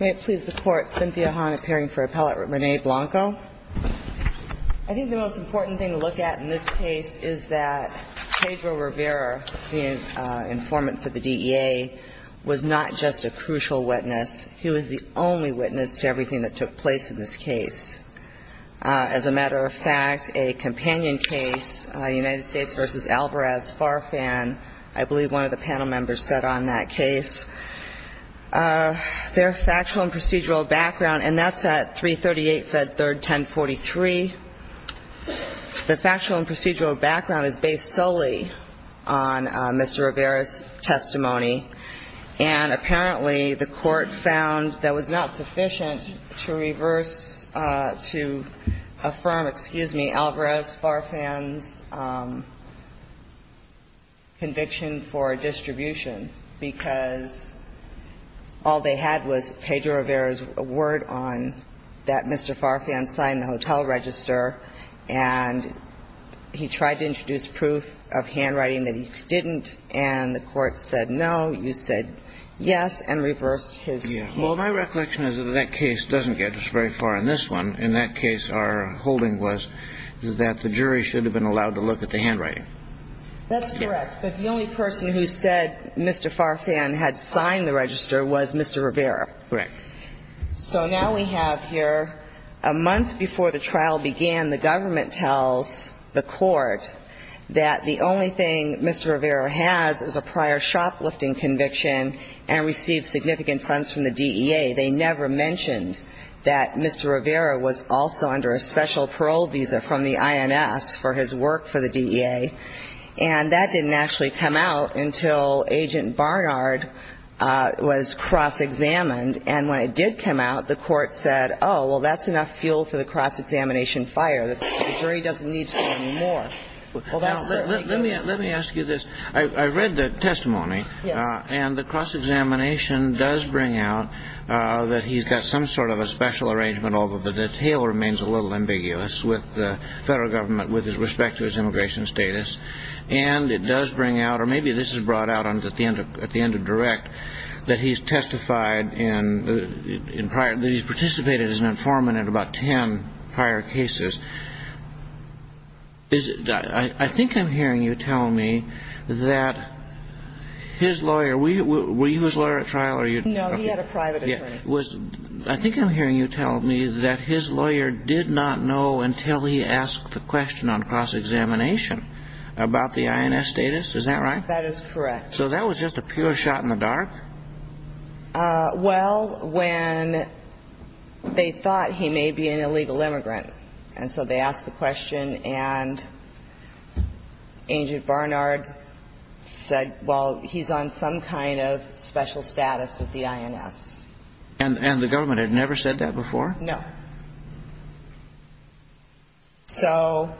May it please the Court, Cynthia Hahn appearing for Appellate Rene Blanco. I think the most important thing to look at in this case is that Pedro Rivera, the informant for the DEA, was not just a crucial witness. He was the only witness to everything that took place in this case. As a matter of fact, a companion case, United States v. Alvarez-Farfan, I believe one of the panel members said on that case. Their factual and procedural background, and that's at 338 Fed Third 1043. The factual and procedural background is based solely on Mr. Rivera's testimony. And apparently the Court found that it was not sufficient to reverse, to affirm, excuse me, Alvarez-Farfan's conviction for distribution, because all they had was Pedro Rivera's word on that Mr. Farfan signed the hotel register, and he tried to introduce proof of handwriting that he didn't, and the Court said no. You said yes and reversed his case. Well, my recollection is that that case doesn't get us very far in this one. In that case, our holding was that the jury should have been allowed to look at the handwriting. That's correct. But the only person who said Mr. Farfan had signed the register was Mr. Rivera. Correct. So now we have here a month before the trial began, the government tells the Court that the only thing Mr. Rivera has is a prior shoplifting conviction and received significant funds from the DEA. They never mentioned that Mr. Rivera was also under a special parole visa from the IMS for his work for the DEA. And that didn't actually come out until Agent Barnard was cross-examined. And when it did come out, the Court said, oh, well, that's enough fuel for the cross-examination fire. The jury doesn't need fuel anymore. Well, that's certainly true. Now, let me ask you this. I read the testimony. Yes. And the cross-examination does bring out that he's got some sort of a special arrangement, although the detail remains a little ambiguous with the federal government with respect to his immigration status. And it does bring out, or maybe this is brought out at the end of direct, that he's testified in prior, that he's participated as an informant in about ten prior cases. I think I'm hearing you tell me that his lawyer, were you his lawyer at trial? No, he had a private attorney. I think I'm hearing you tell me that his lawyer did not know until he asked the question on cross-examination about the INS status. Is that right? That is correct. So that was just a pure shot in the dark? Well, when they thought he may be an illegal immigrant, and so they asked the question and Agent Barnard said, well, he's on some kind of special status with the INS. And the government had never said that before? No. So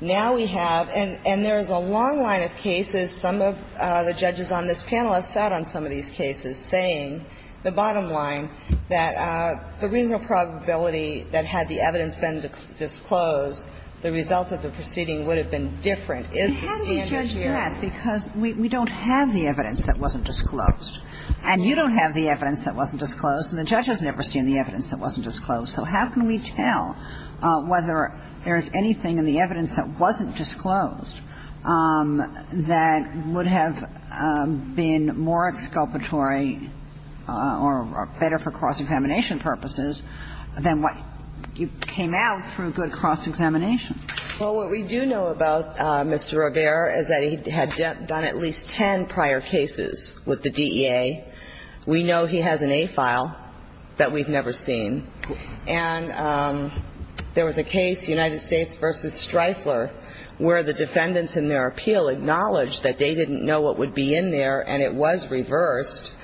now we have, and there's a long line of cases. Some of the judges on this panel have sat on some of these cases saying the bottom line, that the reasonable probability that had the evidence been disclosed, the result of the proceeding would have been different. Is the standard here? How do you judge that? Because we don't have the evidence that wasn't disclosed. And you don't have the evidence that wasn't disclosed. And the judge has never seen the evidence that wasn't disclosed. So how can we tell whether there is anything in the evidence that wasn't disclosed that would have been more exculpatory or better for cross-examination purposes than what came out through good cross-examination? Well, what we do know about Mr. Rivera is that he had done at least ten prior cases with the DEA. We know he has an A file that we've never seen. And there was a case, United States v. Streifler, where the defendants in their appeal acknowledged that they didn't know what would be in there, and it was reversed.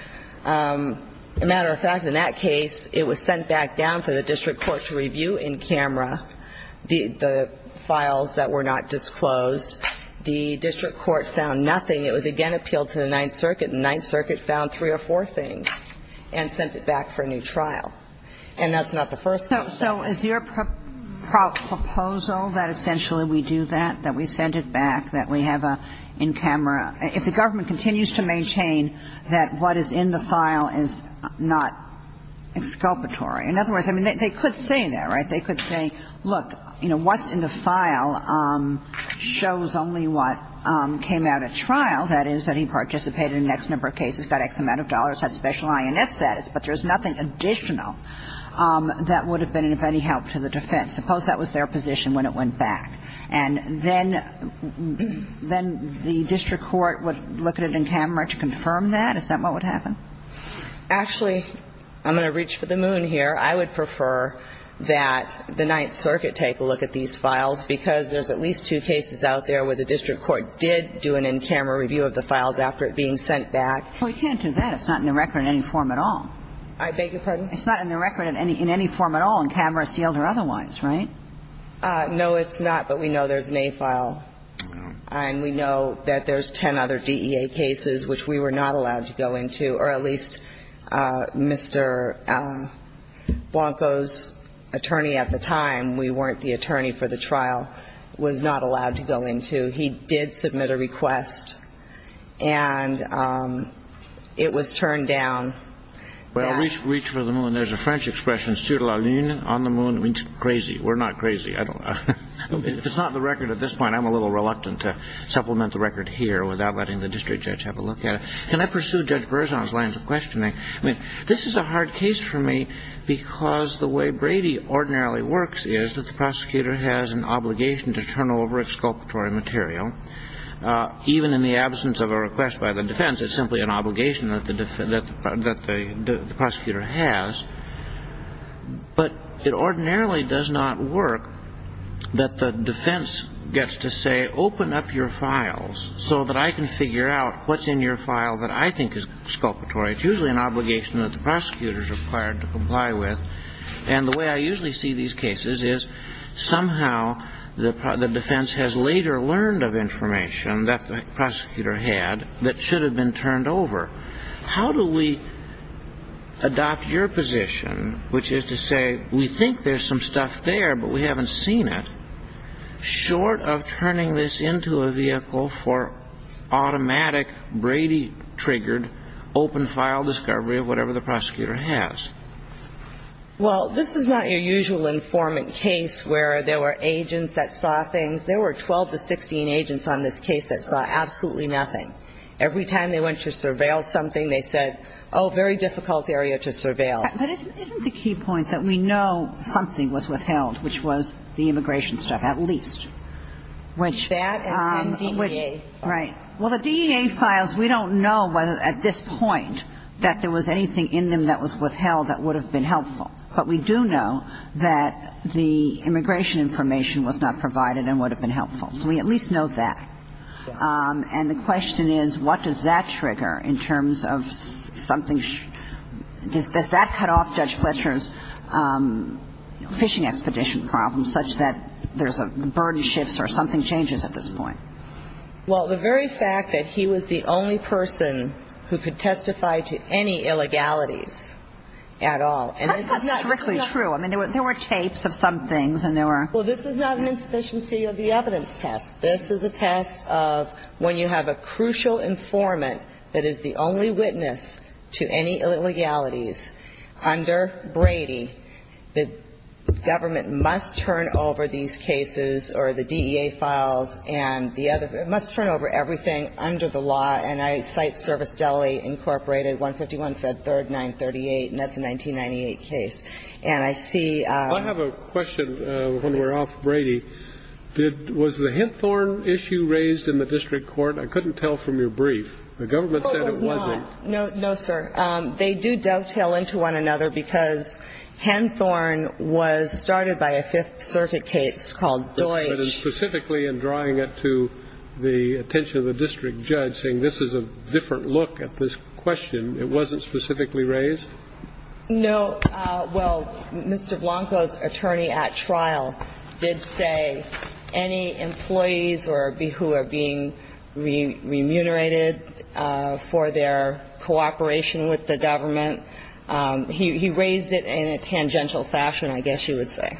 As a matter of fact, in that case, it was sent back down for the district court to review in camera the files that were not disclosed. The district court found nothing. It was again appealed to the Ninth Circuit, and the Ninth Circuit found three or four things and sent it back for a new trial. And that's not the first case. So is your proposal that essentially we do that, that we send it back, that we have a in camera – if the government continues to maintain that what is in the file is not exculpatory – in other words, I mean, they could say that, right? They could say, look, you know, what's in the file shows only what came out at trial, that is, that he participated in X number of cases, got X amount of dollars, had special INS status, but there's nothing additional that would have been of any help to the defense? Suppose that was their position when it went back. And then the district court would look at it in camera to confirm that? Is that what would happen? Actually, I'm going to reach for the moon here. I would prefer that the Ninth Circuit take a look at these files, because there's at least two cases out there where the district court did do an in camera review of the files after it being sent back. Well, you can't do that. It's not in the record in any form at all. I beg your pardon? It's not in the record in any form at all, in camera, sealed or otherwise, right? No, it's not. But we know there's an A file. And we know that there's 10 other DEA cases which we were not allowed to go into, or at least Mr. Blanco's attorney at the time – we weren't the attorney for the trial – was not allowed to go into. He did submit a request, and it was turned down. Well, reach for the moon. There's a French expression, sur la lune, on the moon. It means crazy. We're not crazy. I don't know. If it's not in the record at this point, I'm a little reluctant to supplement the record here without letting the district judge have a look at it. Can I pursue Judge Berzon's lines of questioning? I mean, this is a hard case for me because the way Brady ordinarily works is that the prosecutor has an obligation to turn over its sculptory material. Even in the absence of a request by the defense, it's simply an obligation that the prosecutor has. But it ordinarily does not work that the defense gets to say, open up your files so that I can figure out what's in your file that I think is sculptory. It's usually an obligation that the prosecutor is required to comply with. And the way I usually see these cases is somehow the defense has later learned of information that the prosecutor had that should have been turned over. How do we adopt your position, which is to say we think there's some stuff there, but we haven't seen it, short of turning this into a vehicle for automatic, Brady-triggered, open-file discovery of whatever the prosecutor has? Well, this is not your usual informant case where there were agents that saw things. There were 12 to 16 agents on this case that saw absolutely nothing. Every time they went to surveil something, they said, oh, very difficult area to surveil. But isn't the key point that we know something was withheld, which was the immigration stuff, at least? That and DEA. Right. Well, the DEA files, we don't know whether at this point that there was anything in them that was withheld that would have been helpful. But we do know that the immigration information was not provided and would have been helpful. So we at least know that. And the question is, what does that trigger in terms of something? Does that cut off Judge Fletcher's fishing expedition problem such that there's a burden shifts or something changes at this point? Well, the very fact that he was the only person who could testify to any illegalities at all. That's strictly true. I mean, there were tapes of some things and there were. Well, this is not an insufficiency of the evidence test. This is a test of when you have a crucial informant that is the only witness to any illegalities, under Brady, the government must turn over these cases or the DEA files and the other. It must turn over everything under the law. And I cite Service Deli, Incorporated, 151 Fed 3rd 938, and that's a 1998 case. And I see. I have a question when we're off Brady. Was the Henthorne issue raised in the district court? I couldn't tell from your brief. The government said it wasn't. No, sir. They do dovetail into one another because Henthorne was started by a Fifth Circuit case called Deutsch. But specifically in drawing it to the attention of the district judge saying this is a different look at this question, it wasn't specifically raised? No. Well, Mr. Blanco's attorney at trial did say any employees who are being remunerated for their cooperation with the government, he raised it in a tangential fashion, I guess you would say.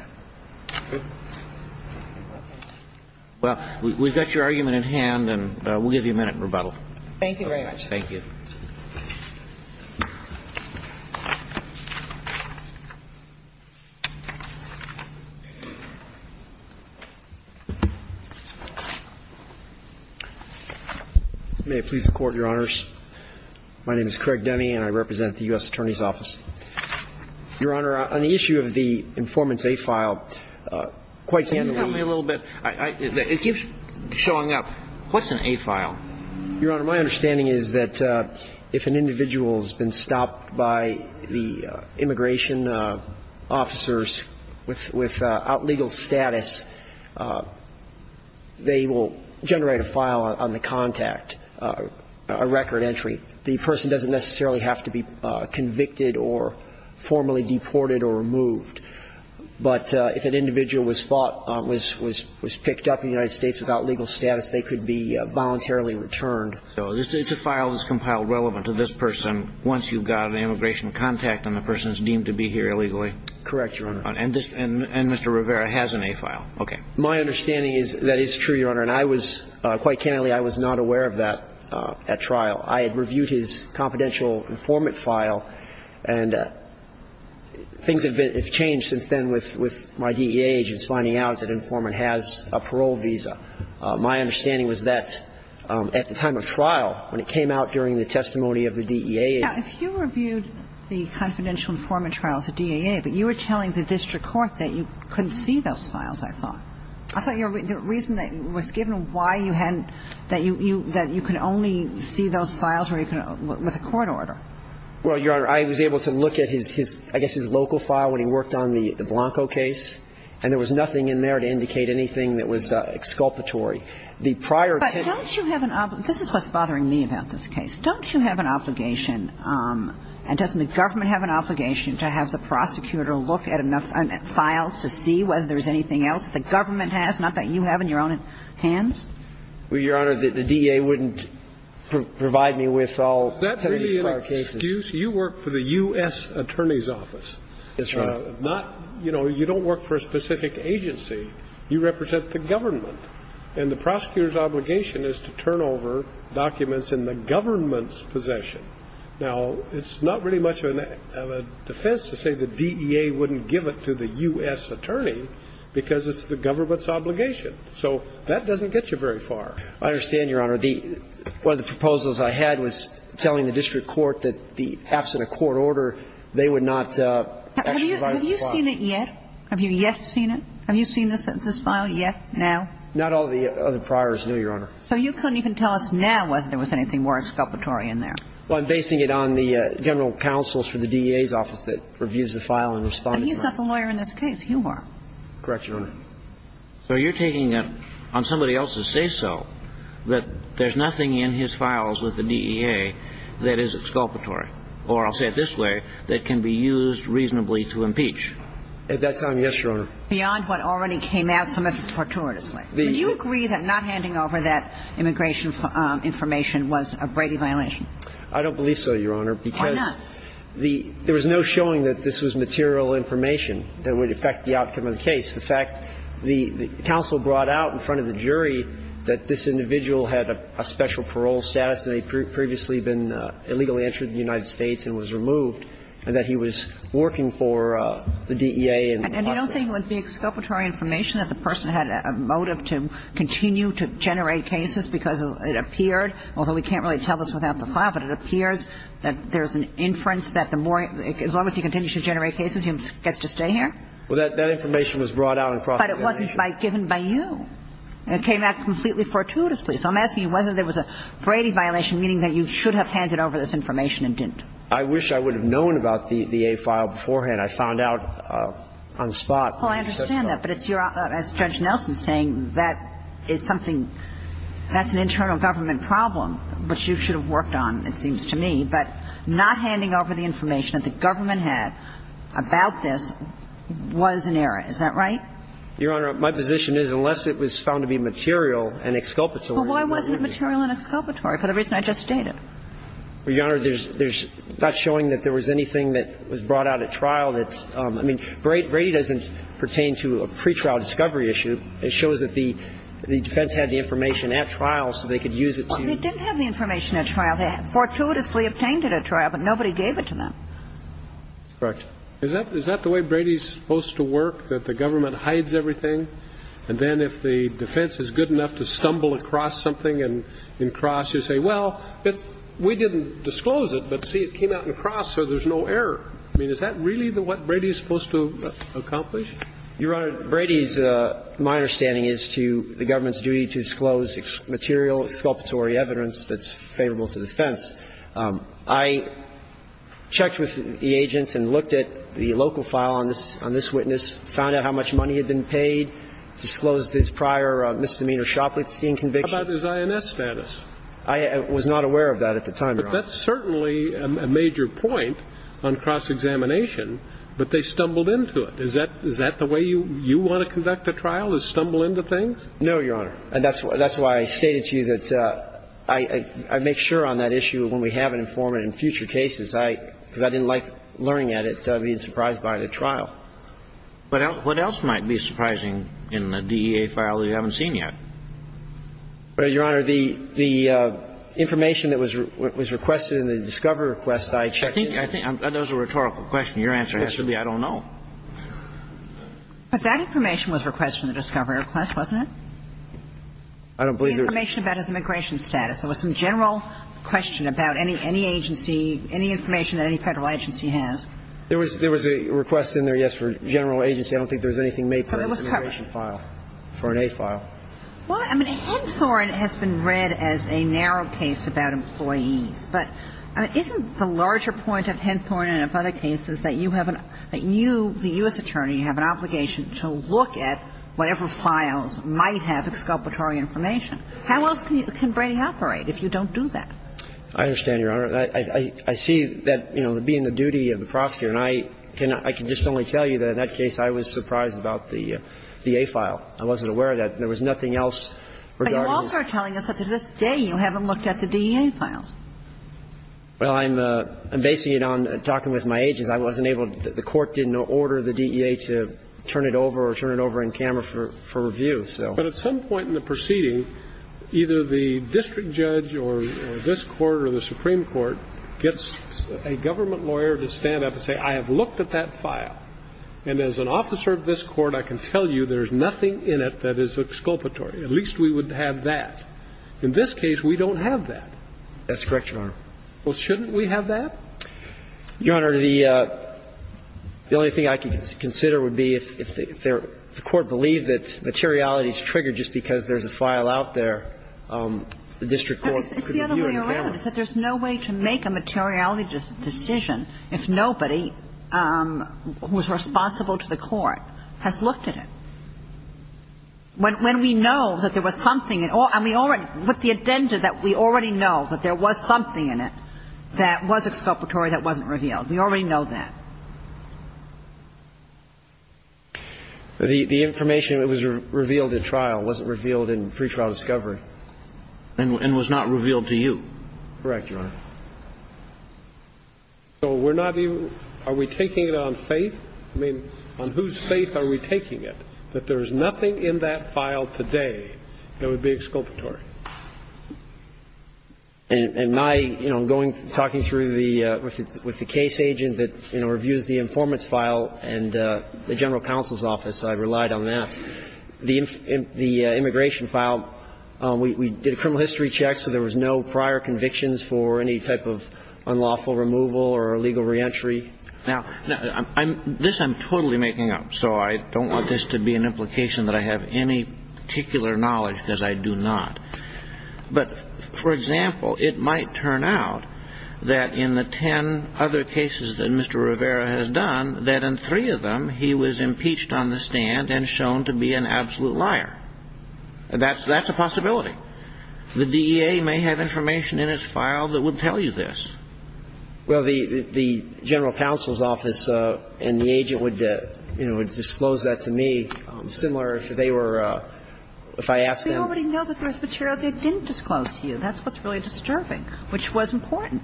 Well, we've got your argument in hand, and we'll give you a minute in rebuttal. Thank you very much. Thank you. May it please the Court, Your Honors. My name is Craig Demme, and I represent the U.S. Attorney's Office. Your Honor, on the issue of the informant's A file, quite candidly – Can you help me a little bit? It keeps showing up. What's an A file? Your Honor, my understanding is that if an individual has been stopped by the immigration officers with outlegal status, they will generate a file on the contact, a record entry. The person doesn't necessarily have to be convicted or formally deported or removed. But if an individual was picked up in the United States without legal status, they could be voluntarily returned. So it's a file that's compiled relevant to this person once you've got an immigration contact and the person is deemed to be here illegally? Correct, Your Honor. And Mr. Rivera has an A file. Okay. My understanding is that is true, Your Honor. And I was – quite candidly, I was not aware of that at trial. I had reviewed his confidential informant file, and things have been – have changed since then with my DEA agents finding out that an informant has a parole visa. My understanding was that at the time of trial, when it came out during the testimony of the DEA – Now, if you reviewed the confidential informant trials of DEA, but you were telling the district court that you couldn't see those files, I thought. I thought the reason that was given why you hadn't – that you could only see those files with a court order. Well, Your Honor, I was able to look at his – I guess his local file when he worked on the Blanco case, and there was nothing in there to indicate anything that was exculpatory. The prior to – But don't you have an – this is what's bothering me about this case. Don't you have an obligation – and doesn't the government have an obligation to have the prosecutor look at enough files to see whether there's anything else? The government has? Not that you have in your own hands? Well, Your Honor, the DEA wouldn't provide me with all ten of these prior cases. That's really an excuse. You work for the U.S. Attorney's Office. Yes, Your Honor. Not – you know, you don't work for a specific agency. You represent the government. And the prosecutor's obligation is to turn over documents in the government's possession. Now, it's not really much of a defense to say the DEA wouldn't give it to the U.S. Attorney because it's the government's obligation. So that doesn't get you very far. I understand, Your Honor. One of the proposals I had was telling the district court that the – absent a court order, they would not actually provide us with the file. Have you seen it yet? Have you yet seen it? Have you seen this file yet, now? Not all the other priors, no, Your Honor. So you couldn't even tell us now whether there was anything more exculpatory in there? Well, I'm basing it on the general counsels for the DEA's office that reviews the file and responds to it. I mean, he's not the lawyer in this case. You are. Correct, Your Honor. So you're taking it on somebody else's say-so that there's nothing in his files with the DEA that is exculpatory, or I'll say it this way, that can be used reasonably to impeach? At that time, yes, Your Honor. Beyond what already came out, some of it is fortuitously. Would you agree that not handing over that immigration information was a Brady violation? I don't believe so, Your Honor. Why not? Well, there was no showing that this was material information that would affect the outcome of the case. The fact the counsel brought out in front of the jury that this individual had a special parole status and had previously been illegally entered in the United States and was removed, and that he was working for the DEA. And the other thing would be exculpatory information that the person had a motive to continue to generate cases because it appeared, although we can't really tell this without the file, but it appears that there's an inference that the more – as long as he continues to generate cases, he gets to stay here? Well, that information was brought out in front of the jury. But it wasn't given by you. It came out completely fortuitously. So I'm asking you whether there was a Brady violation, meaning that you should have handed over this information and didn't. I wish I would have known about the A file beforehand. I found out on the spot. Well, I understand that. But it's your – as Judge Nelson is saying, that is something – that's an internal government problem, which you should have worked on, it seems to me. But not handing over the information that the government had about this was an error. Is that right? Your Honor, my position is, unless it was found to be material and exculpatory – Well, why wasn't it material and exculpatory for the reason I just stated? Well, Your Honor, there's not showing that there was anything that was brought out at trial that's – I mean, Brady doesn't pertain to a pretrial discovery issue. It shows that the defense had the information at trial so they could use it to – Well, they didn't have the information at trial. They fortuitously obtained it at trial, but nobody gave it to them. Correct. Is that the way Brady's supposed to work, that the government hides everything? And then if the defense is good enough to stumble across something and cross, you say, well, we didn't disclose it, but, see, it came out and crossed, so there's I mean, is that really what Brady's supposed to accomplish? Your Honor, Brady's – my understanding is to the government's duty to disclose material exculpatory evidence that's favorable to the defense. I checked with the agents and looked at the local file on this witness, found out how much money had been paid, disclosed his prior misdemeanor shoplifting conviction. How about his INS status? I was not aware of that at the time, Your Honor. But that's certainly a major point on cross-examination, but they stumbled into things. Is that the way you want to conduct a trial, is stumble into things? No, Your Honor. And that's why I stated to you that I make sure on that issue when we have an informant in future cases, because I didn't like learning at it, being surprised by it at trial. What else might be surprising in the DEA file that you haven't seen yet? Your Honor, the information that was requested in the discovery request, I checked into it. I think those are rhetorical questions. Your answer has to be I don't know. But that information was requested in the discovery request, wasn't it? I don't believe there was. The information about his immigration status. There was some general question about any agency, any information that any Federal agency has. There was a request in there, yes, for general agency. I don't think there was anything made for an immigration file, for an A file. Well, I mean, Henthorne has been read as a narrow case about employees. But isn't the larger point of Henthorne and of other cases that you have an – that you, the U.S. attorney, have an obligation to look at whatever files might have exculpatory information? How else can Brady operate if you don't do that? I understand, Your Honor. I see that, you know, being the duty of the prosecutor, and I can just only tell you that in that case I was surprised about the A file. I wasn't aware that there was nothing else regarding this. But you also are telling us that to this day you haven't looked at the DEA files. Well, I'm basing it on talking with my agents. I wasn't able to – the Court didn't order the DEA to turn it over or turn it over in camera for review, so. But at some point in the proceeding, either the district judge or this Court or the Supreme Court gets a government lawyer to stand up and say, I have looked at that file, and as an officer of this Court, I can tell you there is nothing in it that is exculpatory. At least we would have that. In this case, we don't have that. That's correct, Your Honor. Well, shouldn't we have that? Your Honor, the only thing I can consider would be if the Court believed that materiality is triggered just because there's a file out there, the district court could review it in camera. It's the other way around. It's that there's no way to make a materiality decision if nobody who is responsible to the Court has looked at it. When we know that there was something, and we already – with the agenda that we already know that there was something in it that was exculpatory that wasn't revealed, we already know that. The information that was revealed in trial wasn't revealed in pretrial discovery. And was not revealed to you. Correct, Your Honor. So we're not even – are we taking it on faith? I mean, on whose faith are we taking it? That there's nothing in that file today that would be exculpatory. And my, you know, going – talking through the – with the case agent that, you know, reviews the informant's file and the general counsel's office, I relied on that. The immigration file, we did a criminal history check, so there was no prior convictions for any type of unlawful removal or illegal reentry. Now, this I'm totally making up, so I don't want this to be an implication that I have any particular knowledge, because I do not. But, for example, it might turn out that in the ten other cases that Mr. Rivera has done, that in three of them he was impeached on the stand and shown to be an absolute liar. That's a possibility. The DEA may have information in his file that would tell you this. Well, the general counsel's office and the agent would, you know, disclose that to me. Similar, if they were – if I asked them – We already know that there's material they didn't disclose to you. That's what's really disturbing, which was important.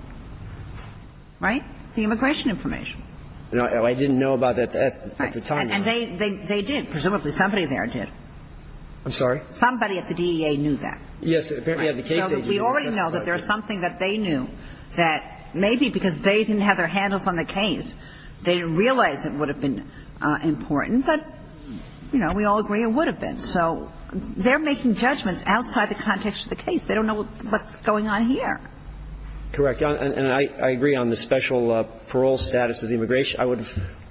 Right? The immigration information. No, I didn't know about that at the time. And they did. Presumably somebody there did. I'm sorry? Somebody at the DEA knew that. Yes. So we already know that there's something that they knew that maybe because they didn't have their handles on the case, they didn't realize it would have been important. But, you know, we all agree it would have been. So they're making judgments outside the context of the case. They don't know what's going on here. Correct. And I agree on the special parole status of the immigration. I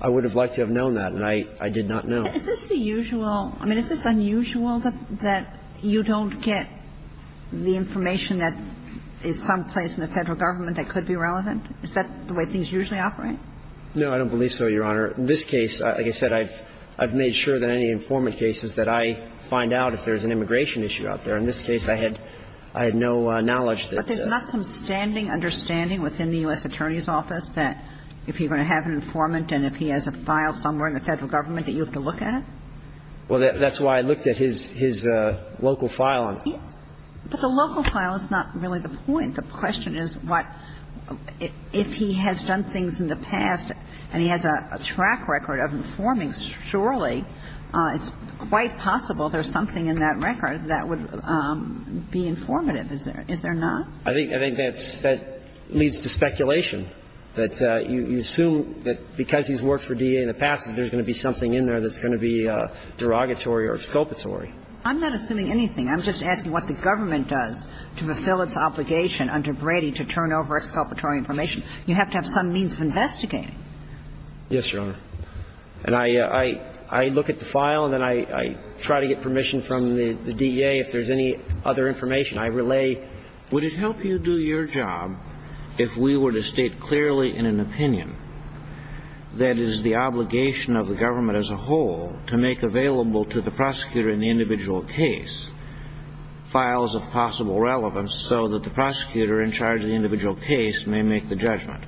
would have liked to have known that, and I did not know. Is this the usual – I mean, is this unusual that you don't get the information that is someplace in the Federal Government that could be relevant? Is that the way things usually operate? No, I don't believe so, Your Honor. In this case, like I said, I've made sure that in any informant cases that I find out if there's an immigration issue out there. In this case, I had no knowledge that – But there's not some standing understanding within the U.S. Attorney's Office that if you're going to have an informant and if he has a file somewhere in the Federal Government that you have to look at it? Well, that's why I looked at his local file. But the local file is not really the point. The question is what – if he has done things in the past and he has a track record of informing, surely it's quite possible there's something in that record that would be informative. Is there not? I think that's – that leads to speculation, that you assume that because he's worked for DEA in the past that there's going to be something in there that's going to be derogatory or exculpatory. I'm not assuming anything. I'm just asking what the government does to fulfill its obligation under Brady to turn over exculpatory information. You have to have some means of investigating. Yes, Your Honor. And I look at the file and then I try to get permission from the DEA if there's any other information. I relay, would it help you do your job if we were to state clearly in an opinion that is the obligation of the government as a whole to make available to the prosecutor in the individual case files of possible relevance so that the prosecutor in charge of the individual case may make the judgment?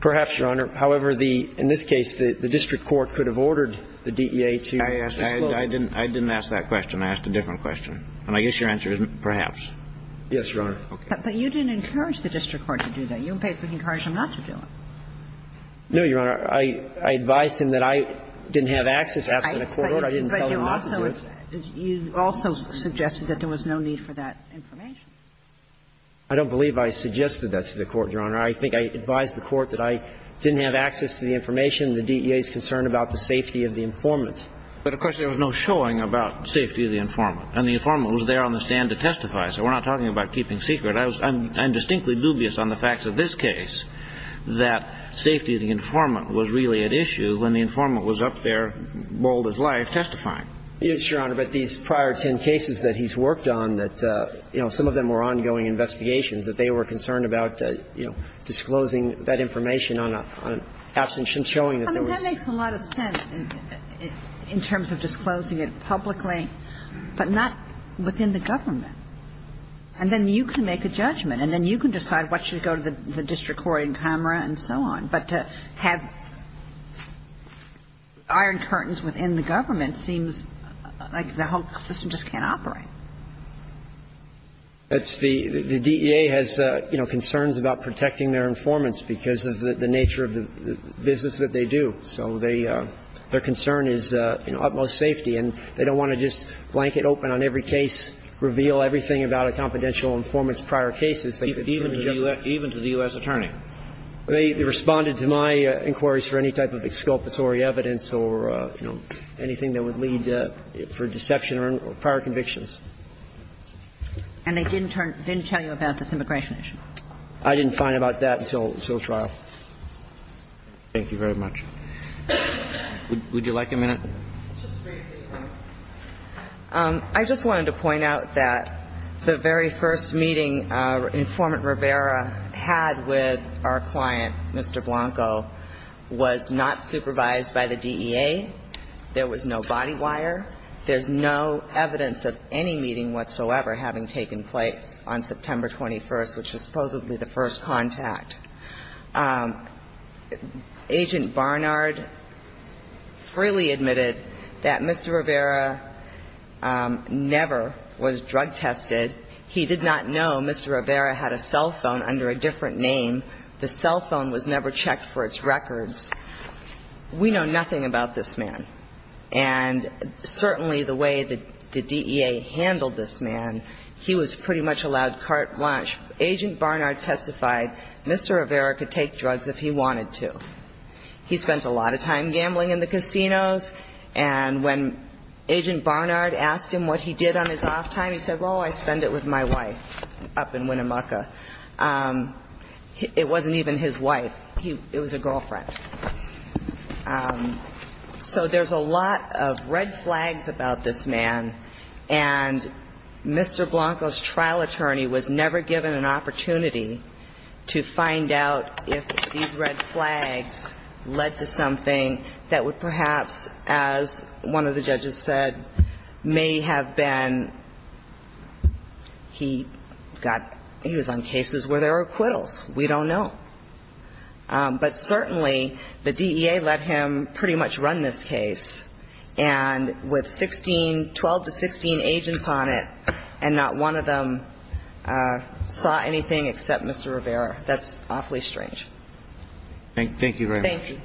Perhaps, Your Honor. However, the – in this case, the district court could have ordered the DEA to disclose it. I didn't ask that question. I asked a different question. And I guess your answer is perhaps. Yes, Your Honor. Okay. But you didn't encourage the district court to do that. You basically encouraged them not to do it. No, Your Honor. I advised them that I didn't have access, absent a court order. I didn't tell them not to do it. But you also suggested that there was no need for that information. I don't believe I suggested that to the Court, Your Honor. I think I advised the Court that I didn't have access to the information. The DEA is concerned about the safety of the informant. But, of course, there was no showing about safety of the informant. And the informant was there on the stand to testify. So we're not talking about keeping secret. I was – I'm distinctly dubious on the facts of this case that safety of the informant was really at issue when the informant was up there, bold as life, testifying. Yes, Your Honor. But these prior ten cases that he's worked on that, you know, some of them were ongoing investigations, that they were concerned about, you know, disclosing that information on an absence showing that there was – I mean, that makes a lot of sense in terms of disclosing it publicly, but not within the government. And then you can make a judgment, and then you can decide what should go to the district court in Conroe and so on. But to have iron curtains within the government seems like the whole system just can't operate. It's the – the DEA has, you know, concerns about protecting their informants because of the nature of the business that they do. So they – their concern is, you know, utmost safety. And they don't want to just blanket open on every case, reveal everything about a confidential informant's prior cases. Even to the U.S. – even to the U.S. attorney. They responded to my inquiries for any type of exculpatory evidence or, you know, anything that would lead for deception or prior convictions. And they didn't tell you about this immigration issue? I didn't find out about that until – until trial. Thank you very much. Would you like a minute? Just briefly. I just wanted to point out that the very first meeting Informant Rivera had with our client, Mr. Blanco, was not supervised by the DEA. There was no body wire. There's no evidence of any meeting whatsoever having taken place on September 21st, which was supposedly the first contact. Agent Barnard freely admitted that Mr. Rivera never was drug tested. He did not know Mr. Rivera had a cell phone under a different name. The cell phone was never checked for its records. We know nothing about this man. And certainly the way the DEA handled this man, he was pretty much allowed to take drugs if he wanted to. He spent a lot of time gambling in the casinos. And when Agent Barnard asked him what he did on his off time, he said, well, I spend it with my wife up in Winnemucca. It wasn't even his wife. It was a girlfriend. So there's a lot of red flags about this man. And Mr. Blanco's trial attorney was never given an opportunity to find out if these red flags led to something that would perhaps, as one of the judges said, may have been he got he was on cases where there were acquittals. We don't know. But certainly the DEA let him pretty much run this case. And with 16, 12 to 16 agents on it, and not one of them saw anything except Mr. Rivera. That's awfully strange. Thank you very much. Thank you.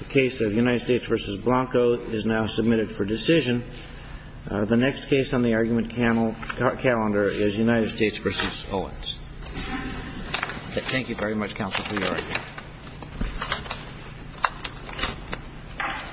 The case of United States v. Blanco is now submitted for decision. The next case on the argument calendar is United States v. Owens. Thank you very much, Counsel, for your argument.